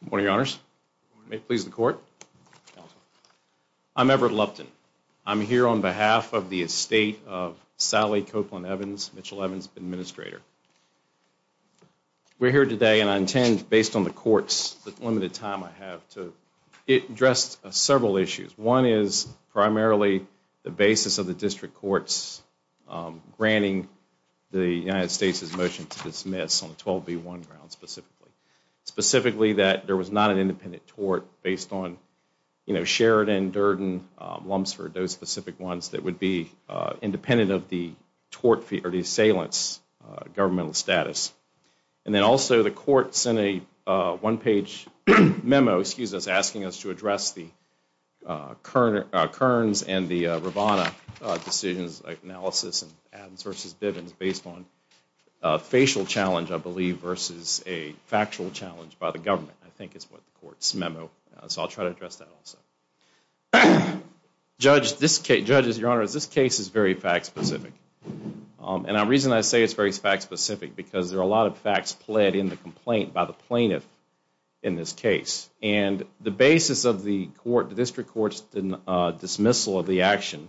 Good morning, your honors. May it please the court. I'm Everett Lupton. I'm here on behalf of the estate of Sally Copeland Evans, Mitchell Evans administrator. We're here today and I intend, based on the courts, the limited time I have to address several issues. One is primarily the basis of the district courts granting the United States' motion to dismiss on the 12B1 grounds specifically. Specifically that there was not an independent tort based on Sheridan, Durden, Lumsford, those specific ones that would be independent of the assailant's governmental status. And then also the court sent a one page memo asking us to address the Kearns and the Rivanna decisions, analysis of Evans v. Bivens based on a facial challenge I believe versus a factual challenge by the government, I think is what the court's memo. So I'll try to address that also. Judges, your honors, this case is very fact specific. And the reason I say it's very fact specific is because there are a lot of facts pled in the complaint by the plaintiff in this case. And the basis of the district court's dismissal of the action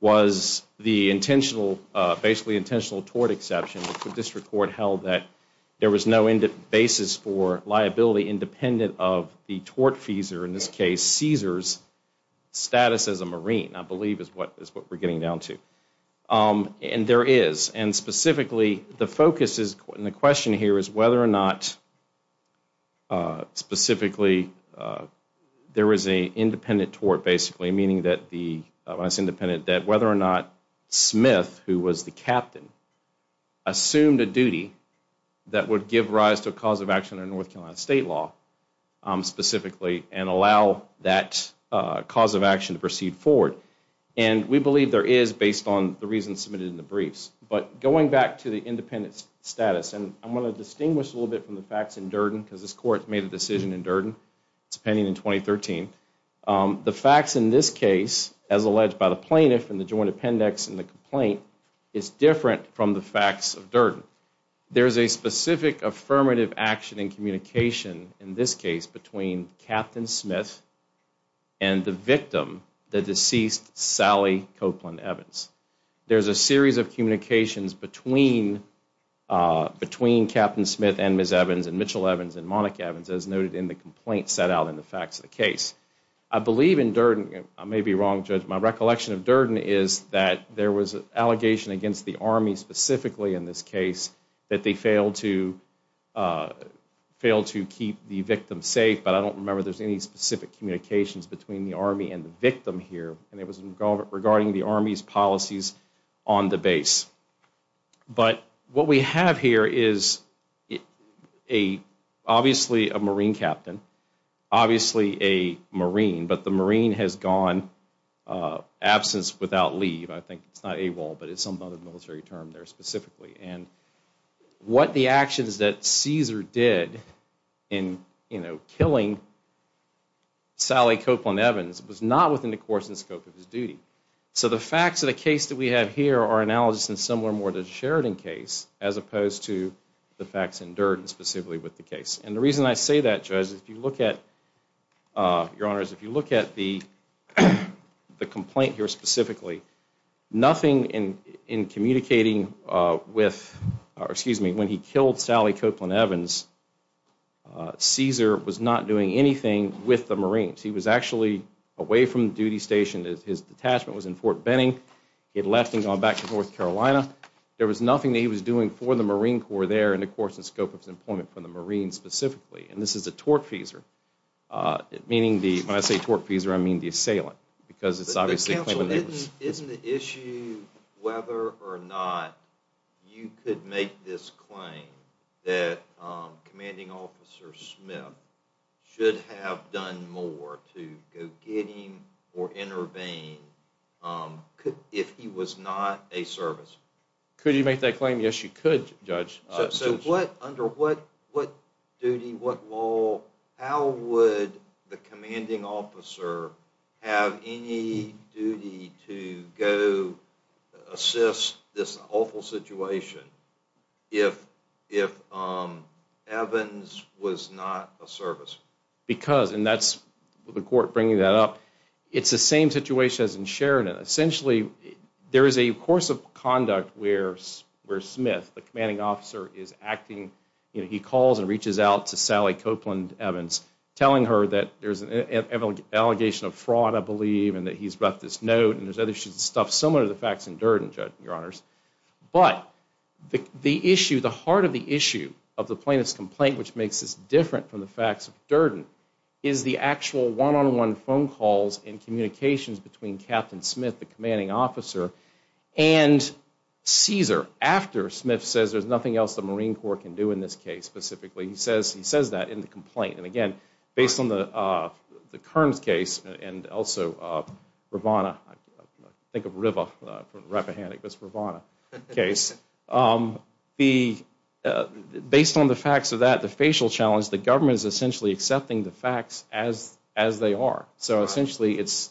was the intentional, basically intentional tort exception that the district court held that there was no basis for liability independent of the tort fees or in this case Caesar's status as a marine, I believe is what we're getting down to. And there is. And specifically the focus and the question here is whether or not specifically there was an independent tort basically, meaning that whether or not Smith, who was the captain, assumed a duty that would give rise to a cause of action in North Carolina state law specifically and allow that cause of action to proceed forward. And we believe there is based on the reasons submitted in the briefs. But going back to the independent status, and I'm going to distinguish a little bit from the facts in Durden because this court made a decision in Durden, it's pending in 2013. The facts in this case, as alleged by the plaintiff in the joint appendix in the complaint, is different from the facts of Durden. There is a specific affirmative action in communication in this case between Captain Smith and the victim, the deceased Sally Copeland Evans. There's a series of communications between Captain Smith and Ms. Evans and Mitchell Evans and Monica Evans as noted in the complaint set out in the facts of the case. I believe in Durden, I may be wrong, Judge, my recollection of Durden is that there was an allegation against the Army specifically in this case that they failed to fail to keep the victim safe. But I don't remember there's any specific communications between the Army and the victim here. And it was regarding the Army's policies on the base. But what we have here is obviously a Marine captain, obviously a Marine, but the Marine has gone absence without leave. I think it's not AWOL, but it's some other military term there specifically. And what the actions that Caesar did in, you know, killing Sally Copeland Evans was not within the course and scope of his duty. So the facts of the case that we have here are analogous and similar more to the Sheridan case as opposed to the facts in Durden specifically with the case. And the reason I say that, Judge, is if you look at, Your Honors, if you look at the complaint here specifically, nothing in communicating with, or excuse me, when he killed Sally Copeland Evans, Caesar was not doing anything with the Marines. He was actually away from duty station. His detachment was in Fort Benning. He had left and gone back to North Carolina. There was nothing that he was doing for the Marine Corps there in the course and scope of his employment for the Marines specifically. And this is a tortfeasor, meaning the, when I say tortfeasor, I mean the assailant, because it's obviously a claimant. Isn't the issue whether or not you could make this claim that Commanding Officer Smith should have done more to go get him or intervene if he was not a serviceman? Could you make that claim? Yes, you could, Judge. So what, under what duty, what role, how would the Commanding Officer have any duty to go assist this awful situation if Evans was not a serviceman? Because, and that's the court bringing that up, it's the same situation as in Sheridan. Essentially, there is a course of conduct where Smith, the Commanding Officer, is acting, you know, he calls and reaches out to Sally Copeland Evans, telling her that there's an allegation of fraud, I believe, and that he's brought this note, and there's other stuff similar to the facts in Durden, Judge, Your Honors. But, the issue, the heart of the issue of the plaintiff's complaint, which makes this different from the facts of Durden, is the actual one-on-one phone calls and communications between Captain Smith, the Commanding Officer, and Caesar, after Smith says there's nothing else the Marine Corps can do in this case, specifically, he says that in the complaint. And again, based on the Kearns case, and also Rivanna, I think of Riva from Rappahannock, but it's Rivanna's case, based on the facts of that, the facial challenge, the government is essentially accepting the facts as they are. So essentially, it's,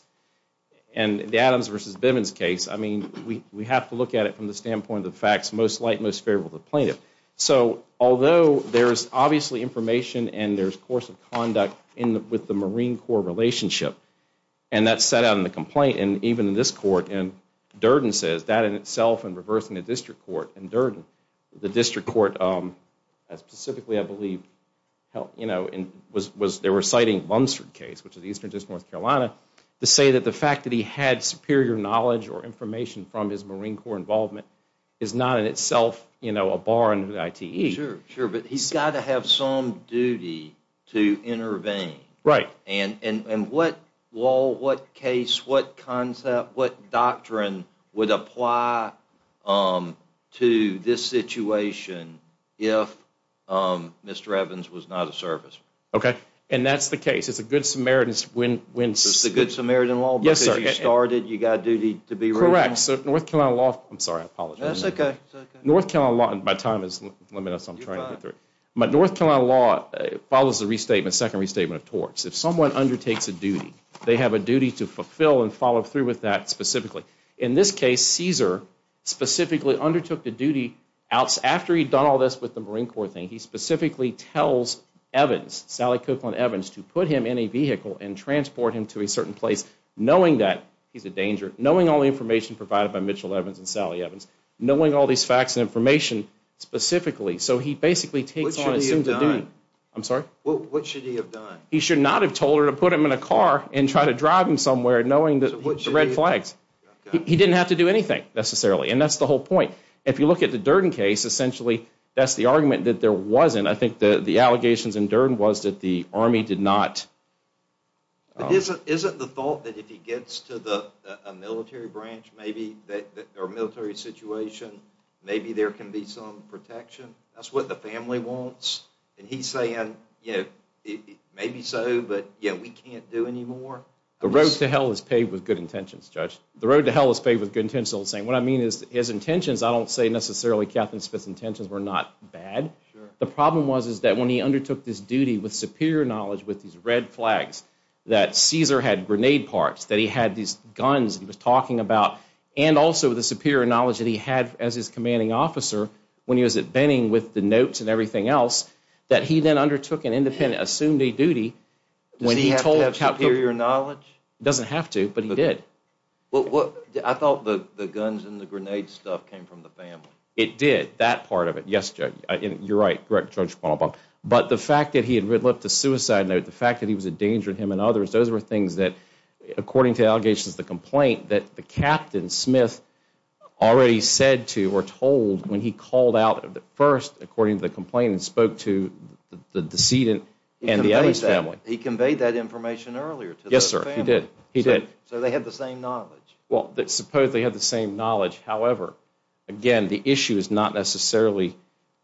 and the Adams versus Bivens case, I mean, we have to look at it from the standpoint of the facts, most light, most favorable to the plaintiff. So, although there's obviously information and there's course of conduct with the Marine Corps relationship, and that's set out in the complaint, and even in this court, and Durden says that in itself, and reversing the district court, and Durden, the district court, specifically, I believe, you know, they were citing Lumsford case, which is Eastern District, North Carolina, to say that the fact that he had superior knowledge or information from his Marine Corps involvement is not in itself, you know, a bar in the ITE. Sure, sure, but he's got to have some duty to intervene. Right. And what law, what case, what concept, what doctrine would apply to this situation if Mr. Evans was not a serviceman? Okay, and that's the case. It's a good Samaritan's when... It's a good Samaritan law because you started, you got a duty to be ready. Correct. So, North Carolina law, I'm sorry, I apologize. That's okay. North Carolina law, and my time is limited, so I'm trying to get through. But North Carolina law follows the restatement, second restatement of torts. If someone undertakes a duty, they have a duty to fulfill and follow through with that specifically. In this case, Caesar specifically undertook the duty after he'd done all this with the Marine Corps thing. He specifically tells Evans, Sally Cookland Evans, to put him in a vehicle and transport him to a certain place, knowing that he's a danger, knowing all the information provided by Mitchell Evans and Sally Evans, knowing all these facts and information specifically. So, he basically takes on... What should he have done? I'm sorry? What should he have done? He should not have told her to put him in a car and try to drive him somewhere knowing the red flags. He didn't have to do anything, necessarily, and that's the whole point. If you look at the Durden case, essentially, that's the argument that there wasn't. I think the allegations in Durden was that the Army did not... Isn't the thought that if he gets to a military branch, maybe, or military situation, maybe there can be some protection? That's what the family wants, and he's saying, you know, maybe so, but, yeah, we can't do any more? The road to hell is paved with good intentions, Judge. The road to hell is paved with good intentions. All I'm saying, what I mean is, his intentions, I don't say, necessarily, Captain Smith's intentions were not bad. The problem was, is that when he undertook this duty with superior knowledge, with these red flags, that Caesar had grenade parts, that he had these guns he was talking about, and also the superior knowledge that he had as his commanding officer when he was at Benning with the notes and everything else, that he then undertook an independent, assumed a duty... Does he have to have superior knowledge? Doesn't have to, but he did. I thought the guns and the grenade stuff came from the family. It did, that part of it. Yes, Judge. You're right, correct, Judge Kwan-O-Bong. But the fact that he had red-lipped a suicide note, the fact that he was a danger to him and others, those were things that, according to allegations of the complaint, that the Captain Smith already said to, or told, when he called out first, according to the complaint, and spoke to the decedent and the Evans family. He conveyed that information earlier to the family. Yes, sir, he did. He did. So they had the same knowledge. Well, suppose they had the same knowledge. However, again, the issue is not necessarily...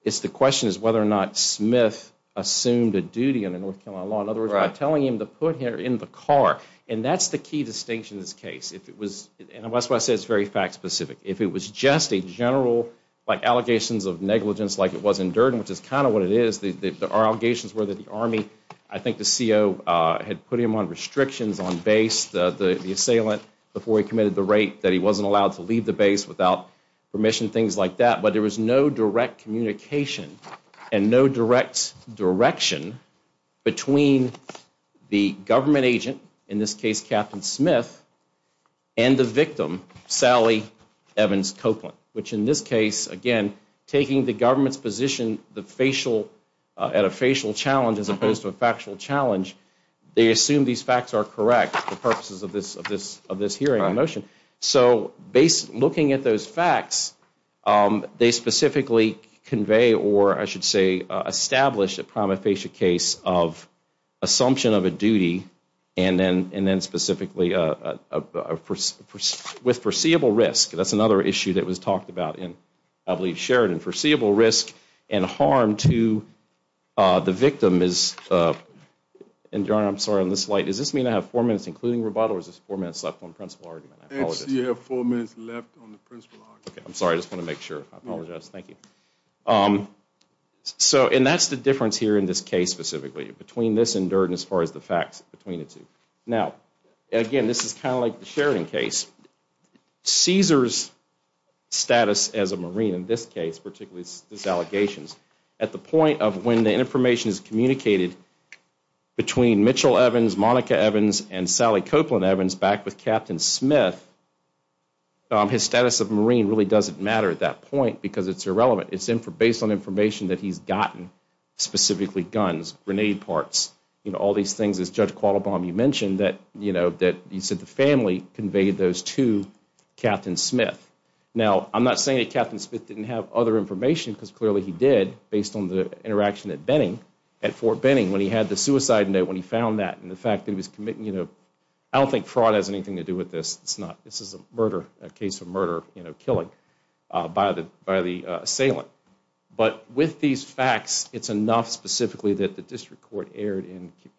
The question is whether or not Smith assumed a duty under North Carolina law. In other words, by telling him to put here in the car. And that's the key distinction in this case. And that's why I said it's very fact-specific. If it was just a general, like, allegations of negligence, like it was in Durden, which is kind of what it is, the allegations were that the Army, I think the CO, had put him on restrictions on base, the assailant, before he committed the rape, that he wasn't allowed to leave the base without permission, things like that. But there was no direct communication and no direct direction between the government agent, in this case Captain Smith, and the victim, Sally Evans Copeland. Which in this case, again, taking the government's position, at a facial challenge as opposed to a factual challenge, they assume these facts are correct for purposes of this hearing and motion. So looking at those facts, they specifically convey, or I should say, establish a prima facie case of assumption of a duty and then specifically with foreseeable risk. That's another issue that was talked about in, I believe, Sheridan. Foreseeable risk and harm to the victim is, and John, I'm sorry, on this slide, does this mean I have four minutes including rebuttal or is this four minutes left on principle argument? You have four minutes left on the principle argument. I'm sorry, I just want to make sure. I apologize. Thank you. So and that's the difference here in this case specifically, between this and Durden as far as the facts between the two. Now, again, this is kind of like the Sheridan case. Caesar's status as a Marine in this case, particularly this allegations, at the point of when the information is communicated between Mitchell Evans, Monica Evans, and Sally Copeland Evans back with Captain Smith, his status of Marine really doesn't matter at that point because it's irrelevant. It's based on information that he's gotten, specifically guns, grenade parts, you know, all these things as Judge Qualabong, you mentioned that, you know, that you said the family conveyed those to Captain Smith. Now, I'm not saying that Captain Smith didn't have other information because clearly he did based on the interaction at Benning, at Fort Benning when he had the suicide note, when he found that and the fact that he was committing, I don't think fraud has anything to do with this. It's not, this is a murder, a case of murder, you know, killing by the assailant. But with these facts, it's enough specifically that the District Court erred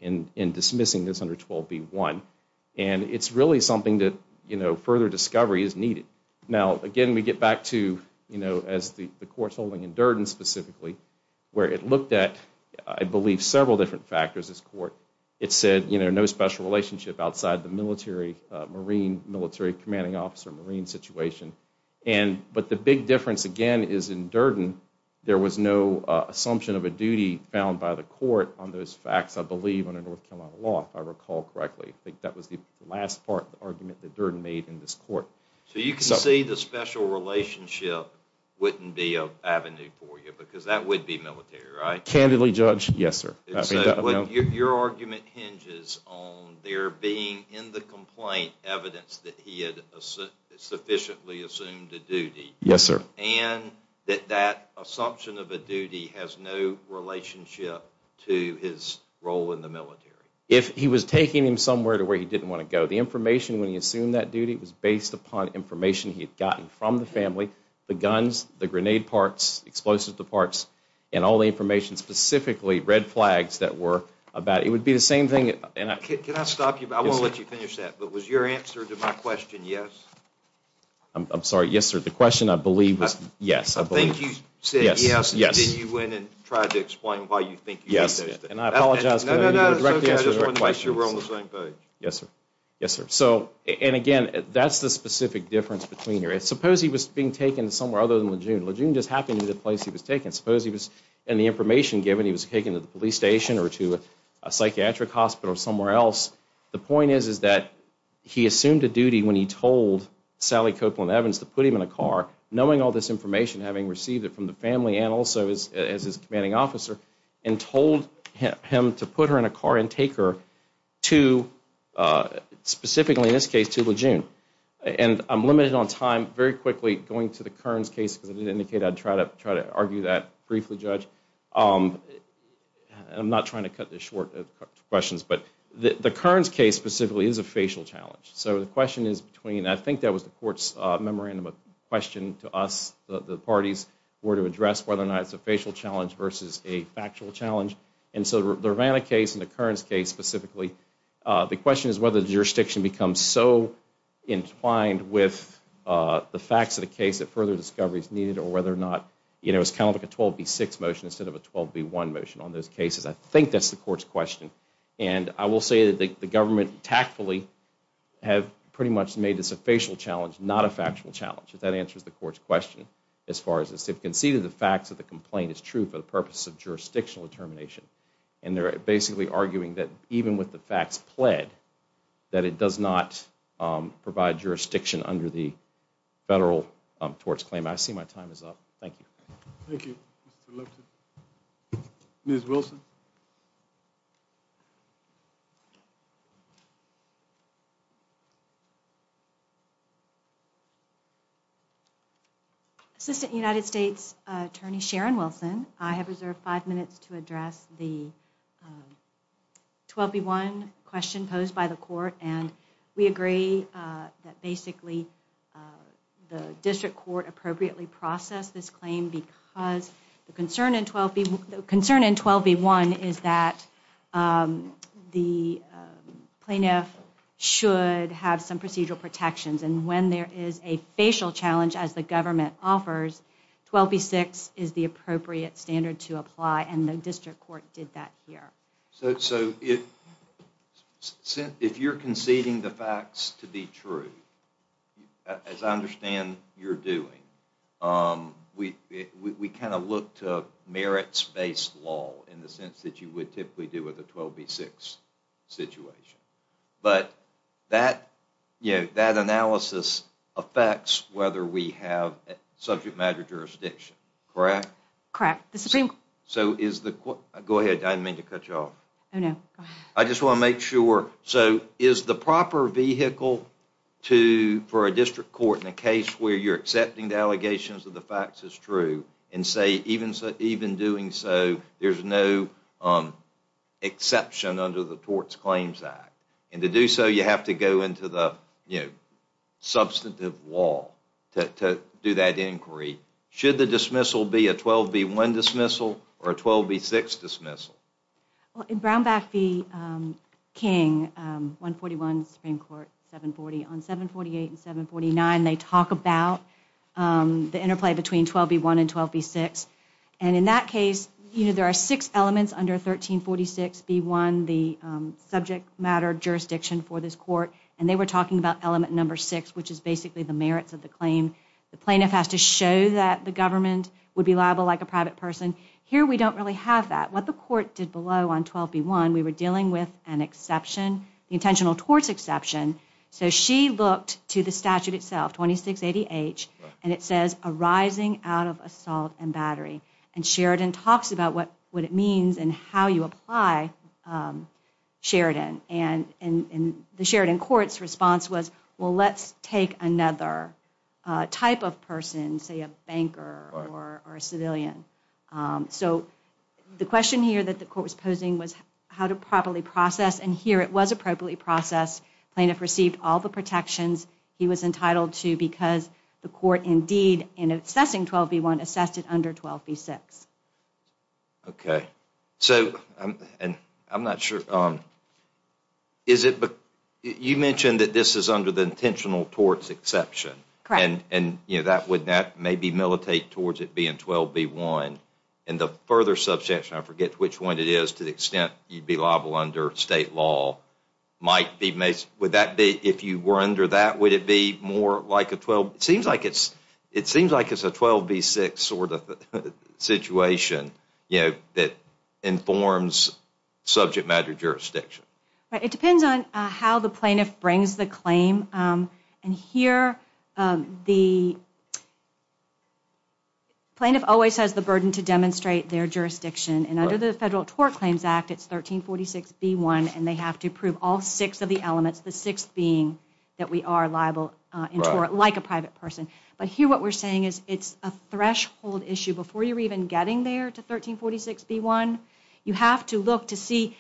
in dismissing this under 12b-1. And it's really something that, you know, further discovery is needed. Now, again, we get back to, you know, as the court's holding in Durden specifically, where it looked at, I believe several different factors as court. It said, you know, no special relationship outside the military, Marine, military commanding officer, Marine situation. But the big difference, again, is in Durden, there was no assumption of a duty found by the court on those facts, I believe, under North Carolina law, if I recall correctly. I think that was the last part of the argument that Durden made in this court. So you can see the special relationship wouldn't be an avenue for you because that would be military, right? Candidly, Judge, yes, sir. Your argument hinges on there being in the complaint evidence that he had sufficiently assumed a duty. Yes, sir. And that that assumption of a duty has no relationship to his role in the military. If he was taking him somewhere to where he didn't want to go, the information when he assumed that duty was based upon information he had gotten from the family, the guns, the grenade parts, explosives, the parts, and all the information specifically, red flags that were about, it would be the same thing. Can I stop you? I won't let you finish that. But was your answer to my question, yes? I'm sorry. Yes, sir. The question, I believe, was yes. I think you said yes and then you went and tried to explain why you think you did that. Yes. And I apologize. No, no, no, I just wanted to make sure we're on the same page. Yes, sir. Yes, sir. So, and again, that's the specific difference between here. Suppose he was being taken somewhere other than Lejeune. Lejeune just happened to be the place he was taken. Suppose he was, and the information given, he was taken to the police station or to a psychiatric hospital or somewhere else. The point is, is that he assumed a duty when he told Sally Copeland-Evans to put him in a car, knowing all this information, having received it from the family and also as his commanding officer, and told him to put her in a car and take her to, specifically in this case, to Lejeune. And I'm limited on time. Very quickly, going to the Kearns case, because I did indicate I'd try to argue that briefly, Judge. I'm not trying to cut this short of questions, but the Kearns case specifically is a facial challenge. So the question is between, I think that was the court's memorandum of question to us, the parties, were to address whether or not it's a facial challenge versus a factual challenge. And so the Rivanna case and the Kearns case specifically, the question is whether the jurisdiction becomes so entwined with the facts of the case that further discovery is needed, or whether or not, you know, it's kind of like a 12B6 motion instead of a 12B1 motion on those cases. I think that's the court's question. And I will say that the government tactfully have pretty much made this a facial challenge, not a factual challenge. If that answers the court's question, as far as it's conceded the facts of the complaint is true for the purpose of jurisdictional determination. And they're basically arguing that even with the facts pled, that it does not provide jurisdiction under the federal torts claim. I see my time is up. Thank you. Thank you, Mr. Lipton. Ms. Wilson. Assistant United States Attorney Sharon Wilson, I have reserved five minutes to address the 12B1 question posed by the court. And we agree that basically the district court appropriately processed this claim because the concern in 12B1 is that the plaintiff should have some procedural protections. And when there is a facial challenge as the government offers, 12B6 is the appropriate standard to apply. And the district court did that here. So if you're conceding the facts to be true, as I understand you're doing, we kind of look to merits-based law in the sense that you would typically do with a 12B6 situation. But that analysis affects whether we have subject matter jurisdiction, correct? Correct. So is the court... Go ahead, I didn't mean to cut you off. Oh, no. I just want to make sure... So is the proper vehicle for a district court in a case where you're accepting the allegations of the facts as true and say even doing so there's no exception under the Torts Claims Act? And to do so, you have to go into the substantive law to do that inquiry. Should the dismissal be a 12B1 dismissal or a 12B6 dismissal? Well, in Brownback v. King, 141 Supreme Court, 740, on 748 and 749, they talk about the interplay between 12B1 and 12B6. And in that case, there are six elements under 1346B1, the subject matter jurisdiction for this court. And they were talking about element number six, which is basically the merits of the claim. The plaintiff has to show that the government would be liable like a private person. Here, we don't really have that. What the court did below on 12B1, we were dealing with an exception, the intentional torts exception. So she looked to the statute itself, 2680H, and it says arising out of assault and battery. And Sheridan talks about what it means and how you apply Sheridan. And the Sheridan court's response was, well, let's take another type of person, say a banker or a civilian. So the question here that the court was posing was how to properly process. And here, it was appropriately processed. Plaintiff received all the protections he was entitled to because the court indeed, in assessing 12B1, assessed it under 12B6. Okay. So, and I'm not sure, is it, you mentioned that this is under the intentional torts exception. Correct. And that would maybe militate towards it being 12B1. And the further substantiation, I forget which one it is, to the extent you'd be liable under state law, might be, would that be, if you were under that, would it be more like a 12, it seems like it's a 12B6 sort of situation, that informs subject matter jurisdiction. Right. It depends on how the plaintiff brings the claim. And here, the plaintiff always has the burden to demonstrate their jurisdiction. And under the Federal Tort Claims Act, it's 1346B1, and they have to prove all six of the elements, the sixth being that we are liable in tort, like a private person. But here, what we're saying is, it's a threshold issue. Before you're even getting there to 1346B1, you have to look to see,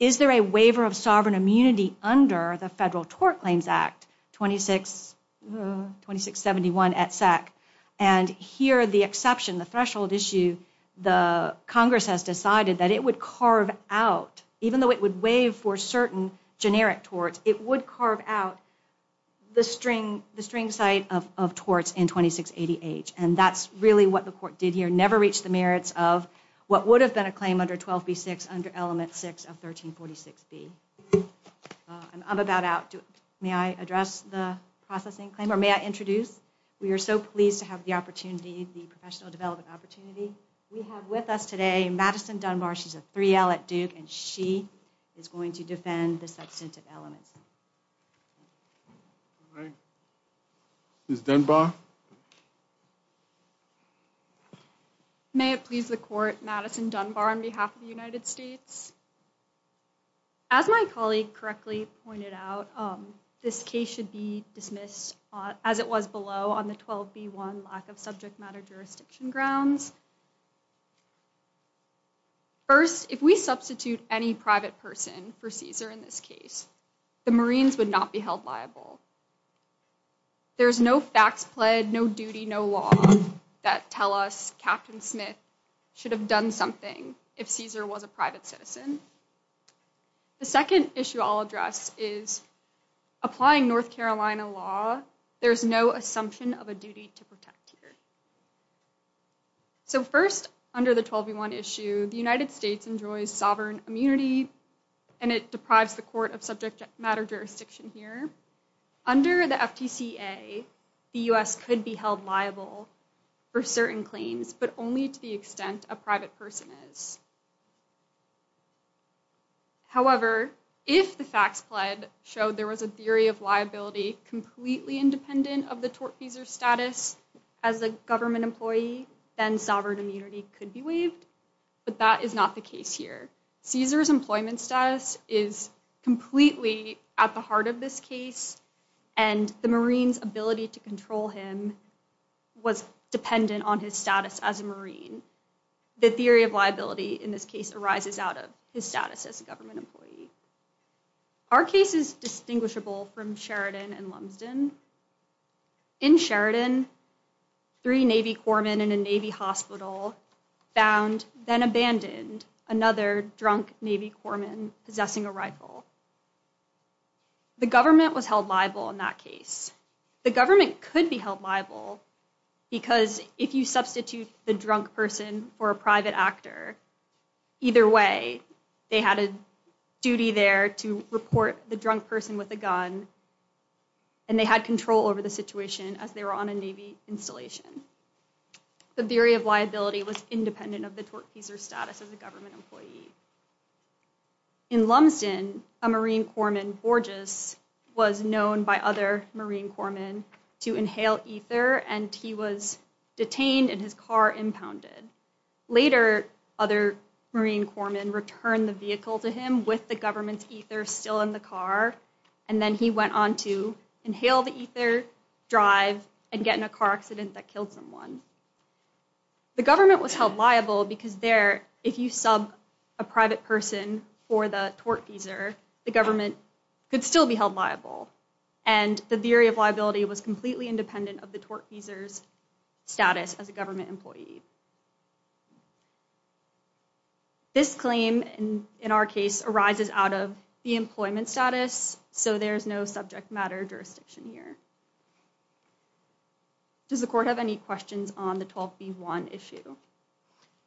under the Federal Tort Claims Act 26, 2671 at SAC? And here, the exception, the threshold issue, the Congress has decided that it would carve out, even though it would waive for certain generic torts, it would carve out the string site of torts in 2680H. And that's really what the court did here, never reached the merits of what would have been a claim under 12B6 under element six of 1346B. I'm about out. May I address the processing claim, or may I introduce? We are so pleased to have the opportunity, the professional development opportunity. We have with us today, Madison Dunbar. She's a 3L at Duke, and she is going to defend the substantive elements. Ms. Dunbar? May it please the court, Madison Dunbar on behalf of the United States. As my colleague correctly pointed out, this case should be dismissed as it was below on the 12B1 lack of subject matter jurisdiction grounds. First, if we substitute any private person for Caesar in this case, the Marines would not be held liable. There's no facts pled, no duty, no law that tell us Captain Smith should have done something if Caesar was a private citizen. The second issue I'll address is applying North Carolina law, there's no assumption of a duty to protect here. So first, under the 12B1 issue, the United States enjoys sovereign immunity, and it deprives the court of subject matter jurisdiction here. Under the FTCA, the US could be held liable for certain claims, but only to the extent a private person is. However, if the facts pled showed there was a theory of liability completely independent of the tortfeasor's status as a government employee, then sovereign immunity could be waived, but that is not the case here. Caesar's employment status is completely at the heart of this case, and the Marines' ability to control him was dependent on his status as a Marine. The theory of liability in this case arises out of his status as a government employee. Our case is distinguishable from Sheridan and Lumsden. In Sheridan, three Navy corpsmen in a Navy hospital found, then abandoned, another drunk Navy corpsman possessing a rifle. The government was held liable in that case. The government could be held liable because if you substitute the drunk person for a private actor, either way, they had a duty there to report the drunk person with a gun, and they had control over the situation as they were on a Navy installation. The theory of liability was independent of the tortfeasor's status as a government employee. In Lumsden, a Marine corpsman, Borges, was known by other Marine corpsmen to inhale ether, and he was detained and his car impounded. Later, other Marine corpsmen returned the vehicle to him with the government's ether still in the car, and then he went on to inhale the ether, drive, and get in a car accident that killed someone. The government was held liable because there, if you sub a private person for the tortfeasor, the government could still be held liable. And the theory of liability was completely independent of the tortfeasor's status as a government employee. This claim in our case arises out of the employment status, so there's no subject matter jurisdiction here. Does the court have any questions on the 12B1 issue?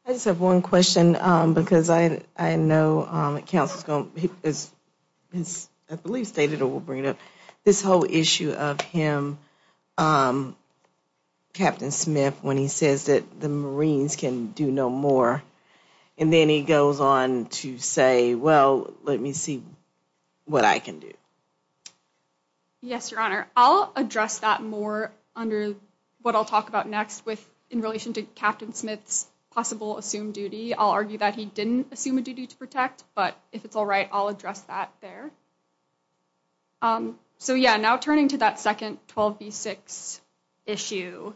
I just have one question, because I know counsel's gonna, I believe stated or will bring it up, this whole issue of him, Captain Smith, when he says that the Marines can do no more, and then he goes on to say, well, let me see what I can do. Yes, Your Honor. I'll address that more under what I'll talk about next with in relation to Captain Smith's possible assumed duty. I'll argue that he didn't assume a duty to protect, but if it's all right, I'll address that there. So yeah, now turning to that second 12B6 issue,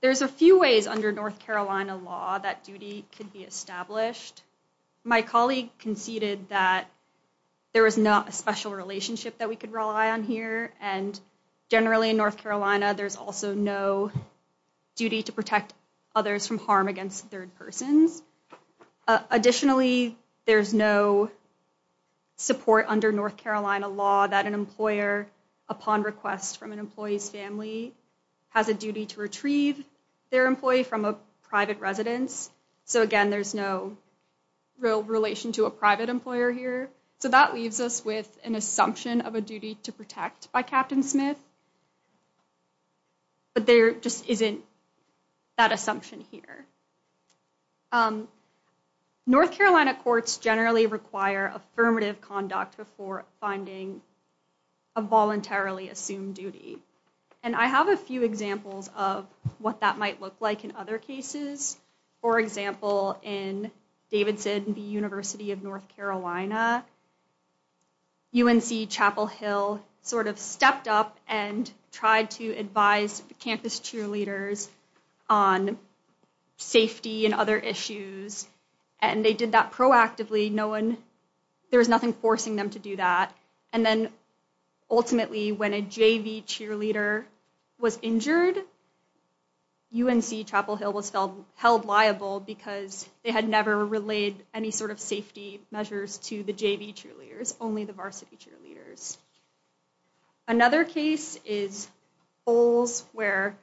there's a few ways under North Carolina law that duty could be established. My colleague conceded that there was not a special relationship that we could rely on here, and generally in North Carolina, there's also no duty to protect others from harm against third persons. Additionally, there's no support under North Carolina law that an employer, upon request from an employee's family, has a duty to retrieve their employee from a private residence. So again, there's no real relation to a private employer here. So that leaves us with an assumption of a duty to protect by Captain Smith, but there just isn't that assumption here. North Carolina courts generally require affirmative conduct before finding a voluntarily assumed duty, and I have a few examples of what that might look like in other cases. For example, in Davidson v. University of North Carolina, UNC Chapel Hill sort of stepped up and tried to advise campus cheerleaders on safety and other issues, and they did that proactively. There was nothing forcing them to do that, and then ultimately, when a JV cheerleader was injured, UNC Chapel Hill was held liable because they had never relayed any sort of safety measures to the JV cheerleaders, only the varsity cheerleaders. Another case is Bowles, where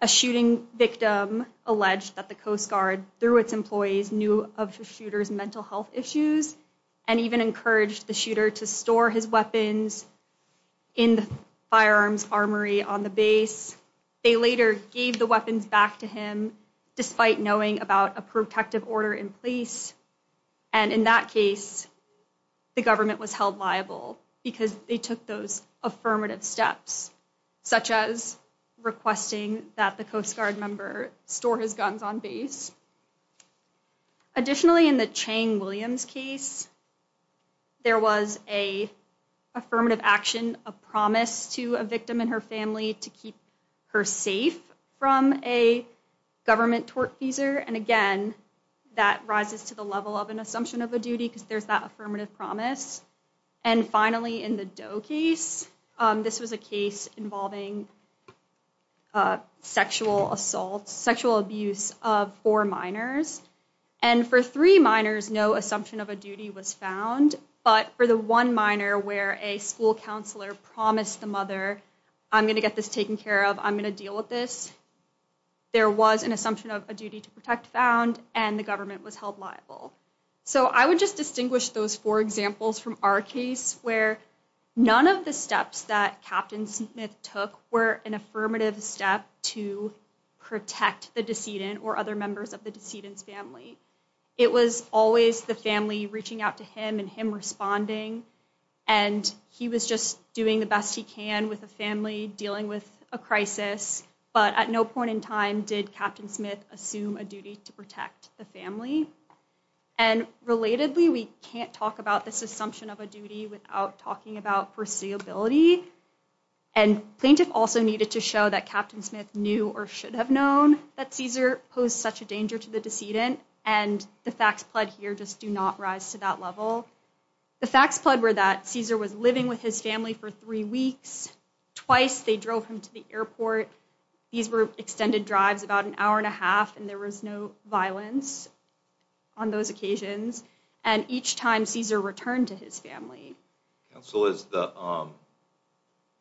a shooting victim alleged that the Coast Guard, through its employees, knew of the shooter's mental health issues and even encouraged the shooter to store his weapons in the firearms armory on the base. They later gave the weapons back to him despite knowing about a protective order in place, and in that case, the government was held liable because they took those affirmative steps, such as requesting that the Coast Guard member store his guns on base. Additionally, in the Chang-Williams case, there was a affirmative action, a promise to a victim and her family to keep her safe from a government tortfeasor, and again, that rises to the level of an assumption of a duty because there's that affirmative promise. And finally, in the Doe case, this was a case involving sexual assault, sexual abuse of four minors, and for three minors, no assumption of a duty was found, but for the one minor where a school counselor promised the mother, I'm gonna get this taken care of, I'm gonna deal with this, there was an assumption of a duty to protect found and the government was held liable. So I would just distinguish those four examples from our case where none of the steps that Captain Smith took were an affirmative step to protect the decedent or other members of the decedent's family. It was always the family reaching out to him and him responding, and he was just doing the best he can with a family dealing with a crisis, but at no point in time did Captain Smith assume a duty to protect the family. And relatedly, we can't talk about this assumption of a duty without talking about foreseeability, and plaintiff also needed to show that Captain Smith knew or should have known that Caesar posed such a danger to the decedent, and the facts pled here just do not rise to that level. The facts pled were that Caesar was living with his family for three weeks, twice they drove him to the airport, these were extended drives about an hour and a half and there was no violence on those occasions, and each time Caesar returned to his family. Counsel,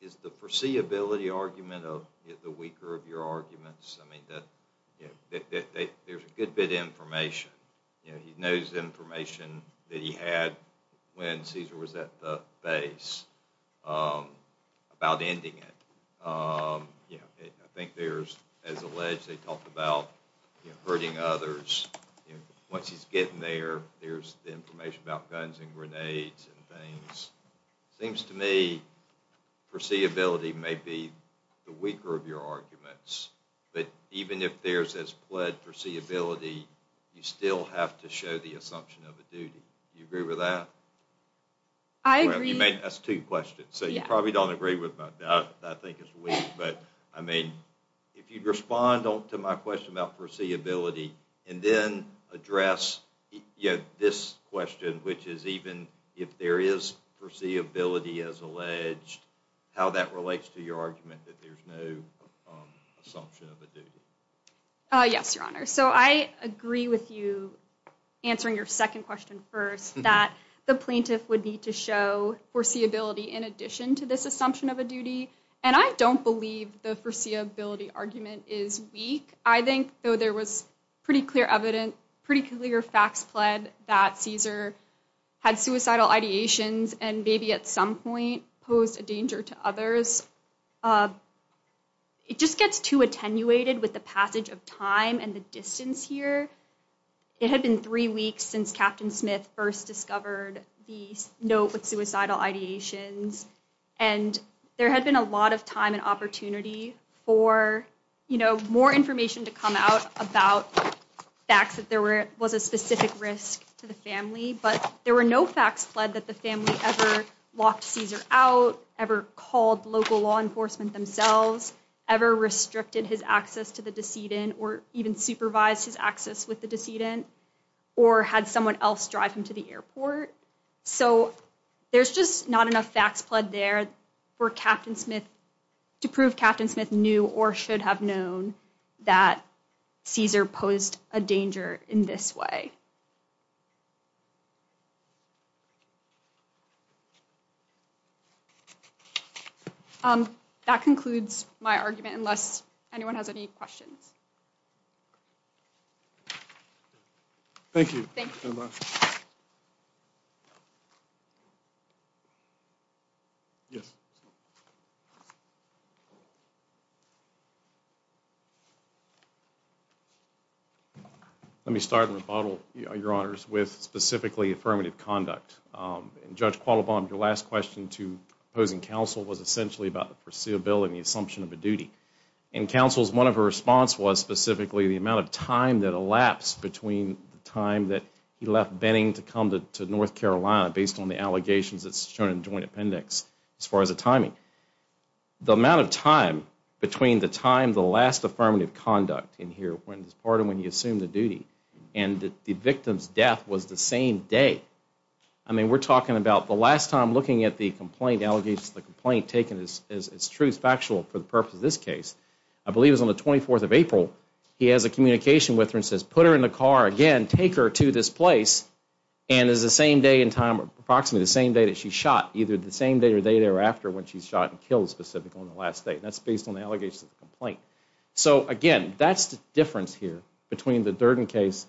is the foreseeability argument of the weaker of your arguments? I mean, there's a good bit of information. You know, he knows information that he had when Caesar was at the base about ending it. I think there's, as alleged, they talked about hurting others. Once he's getting there, there's the information about guns and grenades and things. It seems to me, foreseeability may be the weaker of your arguments, but even if there's this pled foreseeability, you still have to show the assumption of a duty. You agree with that? I agree. That's two questions. So you probably don't agree with that. I think it's weak, but I mean, if you'd respond to my question about foreseeability and then address this question, which is even if there is foreseeability as alleged, how that relates to your argument that there's no assumption of a duty. Yes, Your Honor. So I agree with you answering your second question first, that the plaintiff would need to show foreseeability in addition to this assumption of a duty, and I don't believe the foreseeability argument is weak. I think though there was pretty clear evidence, that Caesar had suicidal ideations and maybe at some point posed a danger to others. It just gets too attenuated with the passage of time and the distance here. It had been three weeks since Captain Smith first discovered the note with suicidal ideations, and there had been a lot of time and opportunity for more information to come out about facts that there was a specific risk to the family, but there were no facts fled that the family ever locked Caesar out, ever called local law enforcement themselves, ever restricted his access to the decedent or even supervised his access with the decedent or had someone else drive him to the airport. So there's just not enough facts fled there to prove Captain Smith knew or should have known that Caesar posed a danger in this way. That concludes my argument, unless anyone has any questions. Thank you. Thank you very much. Yes. Let me start in rebuttal, Your Honors, with specifically affirmative conduct. Judge Qualibon, your last question to opposing counsel was essentially about the foreseeability and the assumption of a duty. And counsel's one of her response was specifically the amount of time that elapsed between the time that he left Benning to come to North Carolina based on the allegations that's shown in the joint appendix as far as the timing. The amount of time between the time, the last affirmative conduct in here, when it's part of when you assume the duty and the victim's death was the same day. I mean, we're talking about the last time looking at the complaint, allegations of the complaint taken as true, factual for the purpose of this case, I believe it was on the 24th of April, he has a communication with her and says, put her in the car again, take her to this place, and is the same day in time, approximately the same day that she shot, either the same day or day thereafter when she's shot and killed specifically on the last day. That's based on the allegations of the complaint. So again, that's the difference here between the Durden case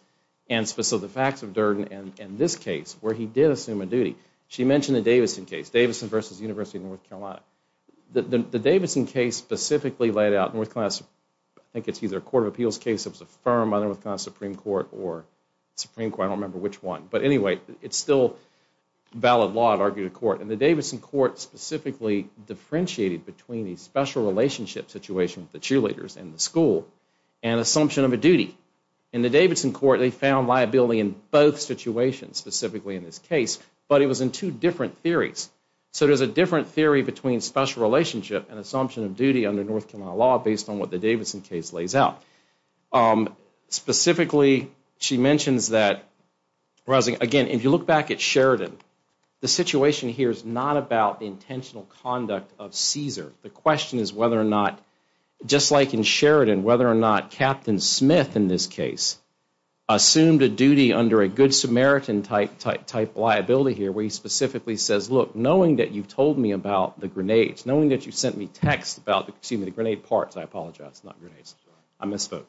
and specific facts of Durden and this case where he did assume a duty. She mentioned the Davidson case, Davidson versus University of North Carolina. The Davidson case specifically laid out North Carolina, I think it's either a Court of Appeals case, it was a firm, either North Carolina Supreme Court or Supreme Court, I don't remember which one. But anyway, it's still valid law to argue to court. And the Davidson court specifically differentiated between the special relationship situation with the cheerleaders and the school and assumption of a duty. In the Davidson court, they found liability in both situations, specifically in this case, but it was in two different theories. So there's a different theory between special relationship and assumption of duty under North Carolina law based on what the Davidson case lays out. Specifically, she mentions that, again, if you look back at Sheridan, the situation here is not about the intentional conduct of Caesar. The question is whether or not, just like in Sheridan, whether or not Captain Smith in this case assumed a duty under a good Samaritan type liability here where he specifically says, knowing that you've told me about the grenades, knowing that you sent me text about, excuse me, the grenade parts, I apologize, not grenades, I misspoke,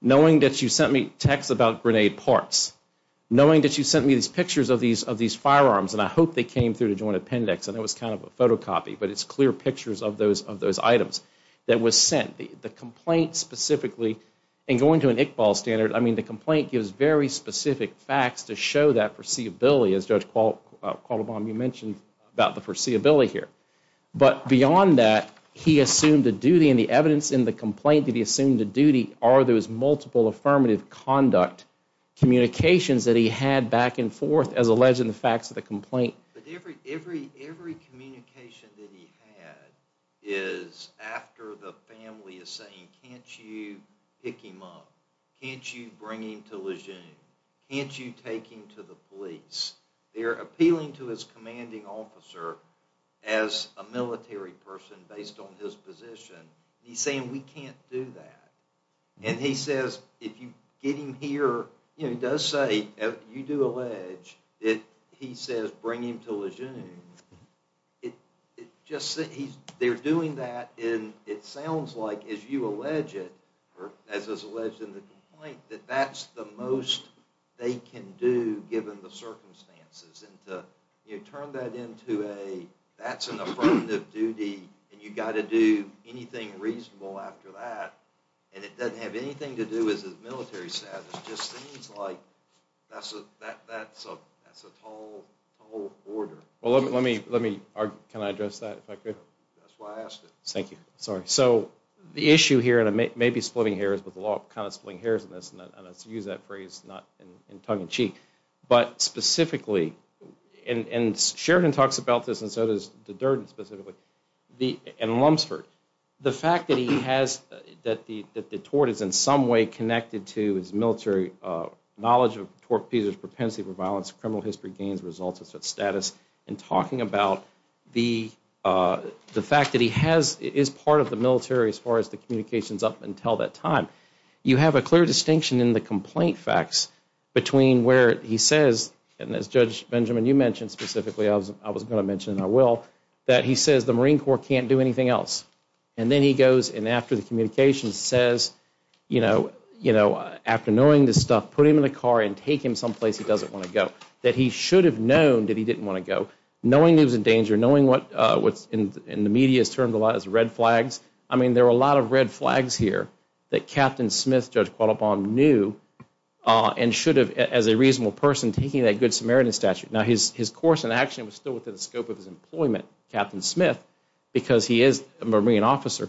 knowing that you sent me text about grenade parts, knowing that you sent me these pictures of these firearms and I hope they came through the joint appendix and it was kind of a photocopy, but it's clear pictures of those items that was sent. The complaint specifically, and going to an Iqbal standard, I mean, the complaint gives very specific facts to show that foreseeability, as Judge Quattlebaum, you mentioned about the foreseeability here, but beyond that, he assumed a duty and the evidence in the complaint that he assumed a duty are those multiple affirmative conduct communications that he had back and forth as alleged in the facts of the complaint. But every communication that he had is after the family is saying, can't you pick him up? Can't you bring him to Lejeune? Can't you take him to the police? They're appealing to his commanding officer as a military person based on his position. He's saying, we can't do that. And he says, if you get him here, you know, he does say, you do allege, he says, bring him to Lejeune. They're doing that, and it sounds like, as you allege it, or as is alleged in the complaint, that that's the most they can do in the circumstances. And to turn that into a, that's an affirmative duty, and you got to do anything reasonable after that, and it doesn't have anything to do with his military status, just seems like that's a tall order. Well, let me, can I address that if I could? That's why I asked it. Thank you. Sorry. So the issue here, and I may be splitting hairs, but the law kind of splitting hairs on this, and I use that phrase not in tongue in cheek, but specifically, and Sheridan talks about this, and so does Durden specifically, and Lumsford, the fact that he has, that the tort is in some way connected to his military knowledge of tort pieces, propensity for violence, criminal history, gains, results, and status, and talking about the fact that he has, is part of the military as far as the communications up until that time. You have a clear distinction in the complaint facts between where he says, and as Judge Benjamin, you mentioned specifically, I was going to mention, and I will, that he says the Marine Corps can't do anything else, and then he goes, and after the communications, says, you know, after knowing this stuff, put him in a car and take him someplace he doesn't want to go, that he should have known that he didn't want to go, knowing he was in danger, knowing what's in the media is termed a lot as red flags. I mean, there are a lot of red flags here that Captain Smith, Judge Qualopon, knew, and should have, as a reasonable person, taking that good Samaritan statute. Now, his course and action was still within the scope of his employment, Captain Smith, because he is a Marine officer.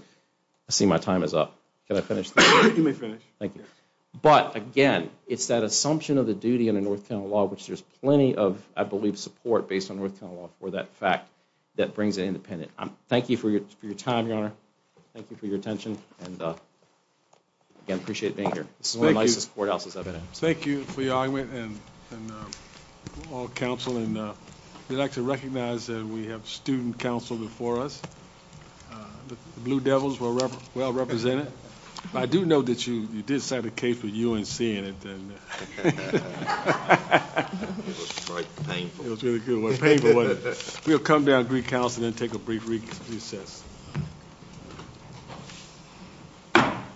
I see my time is up. Can I finish? You may finish. Thank you. But again, it's that assumption of the duty in a North Carolina law, which there's plenty of, I believe, support based on North Carolina law for that fact that brings it independent. Thank you for your time, Your Honor. Thank you for your attention, and again, appreciate being here. This is one of the nicest courthouses I've been in. Thank you for your argument, and all counsel, and we'd like to recognize that we have student counsel before us. The Blue Devils were well represented. But I do know that you did set a case with UNC in it. It was quite painful. It was really good, but painful was it. We'll come down to Greek House and then take a brief recess.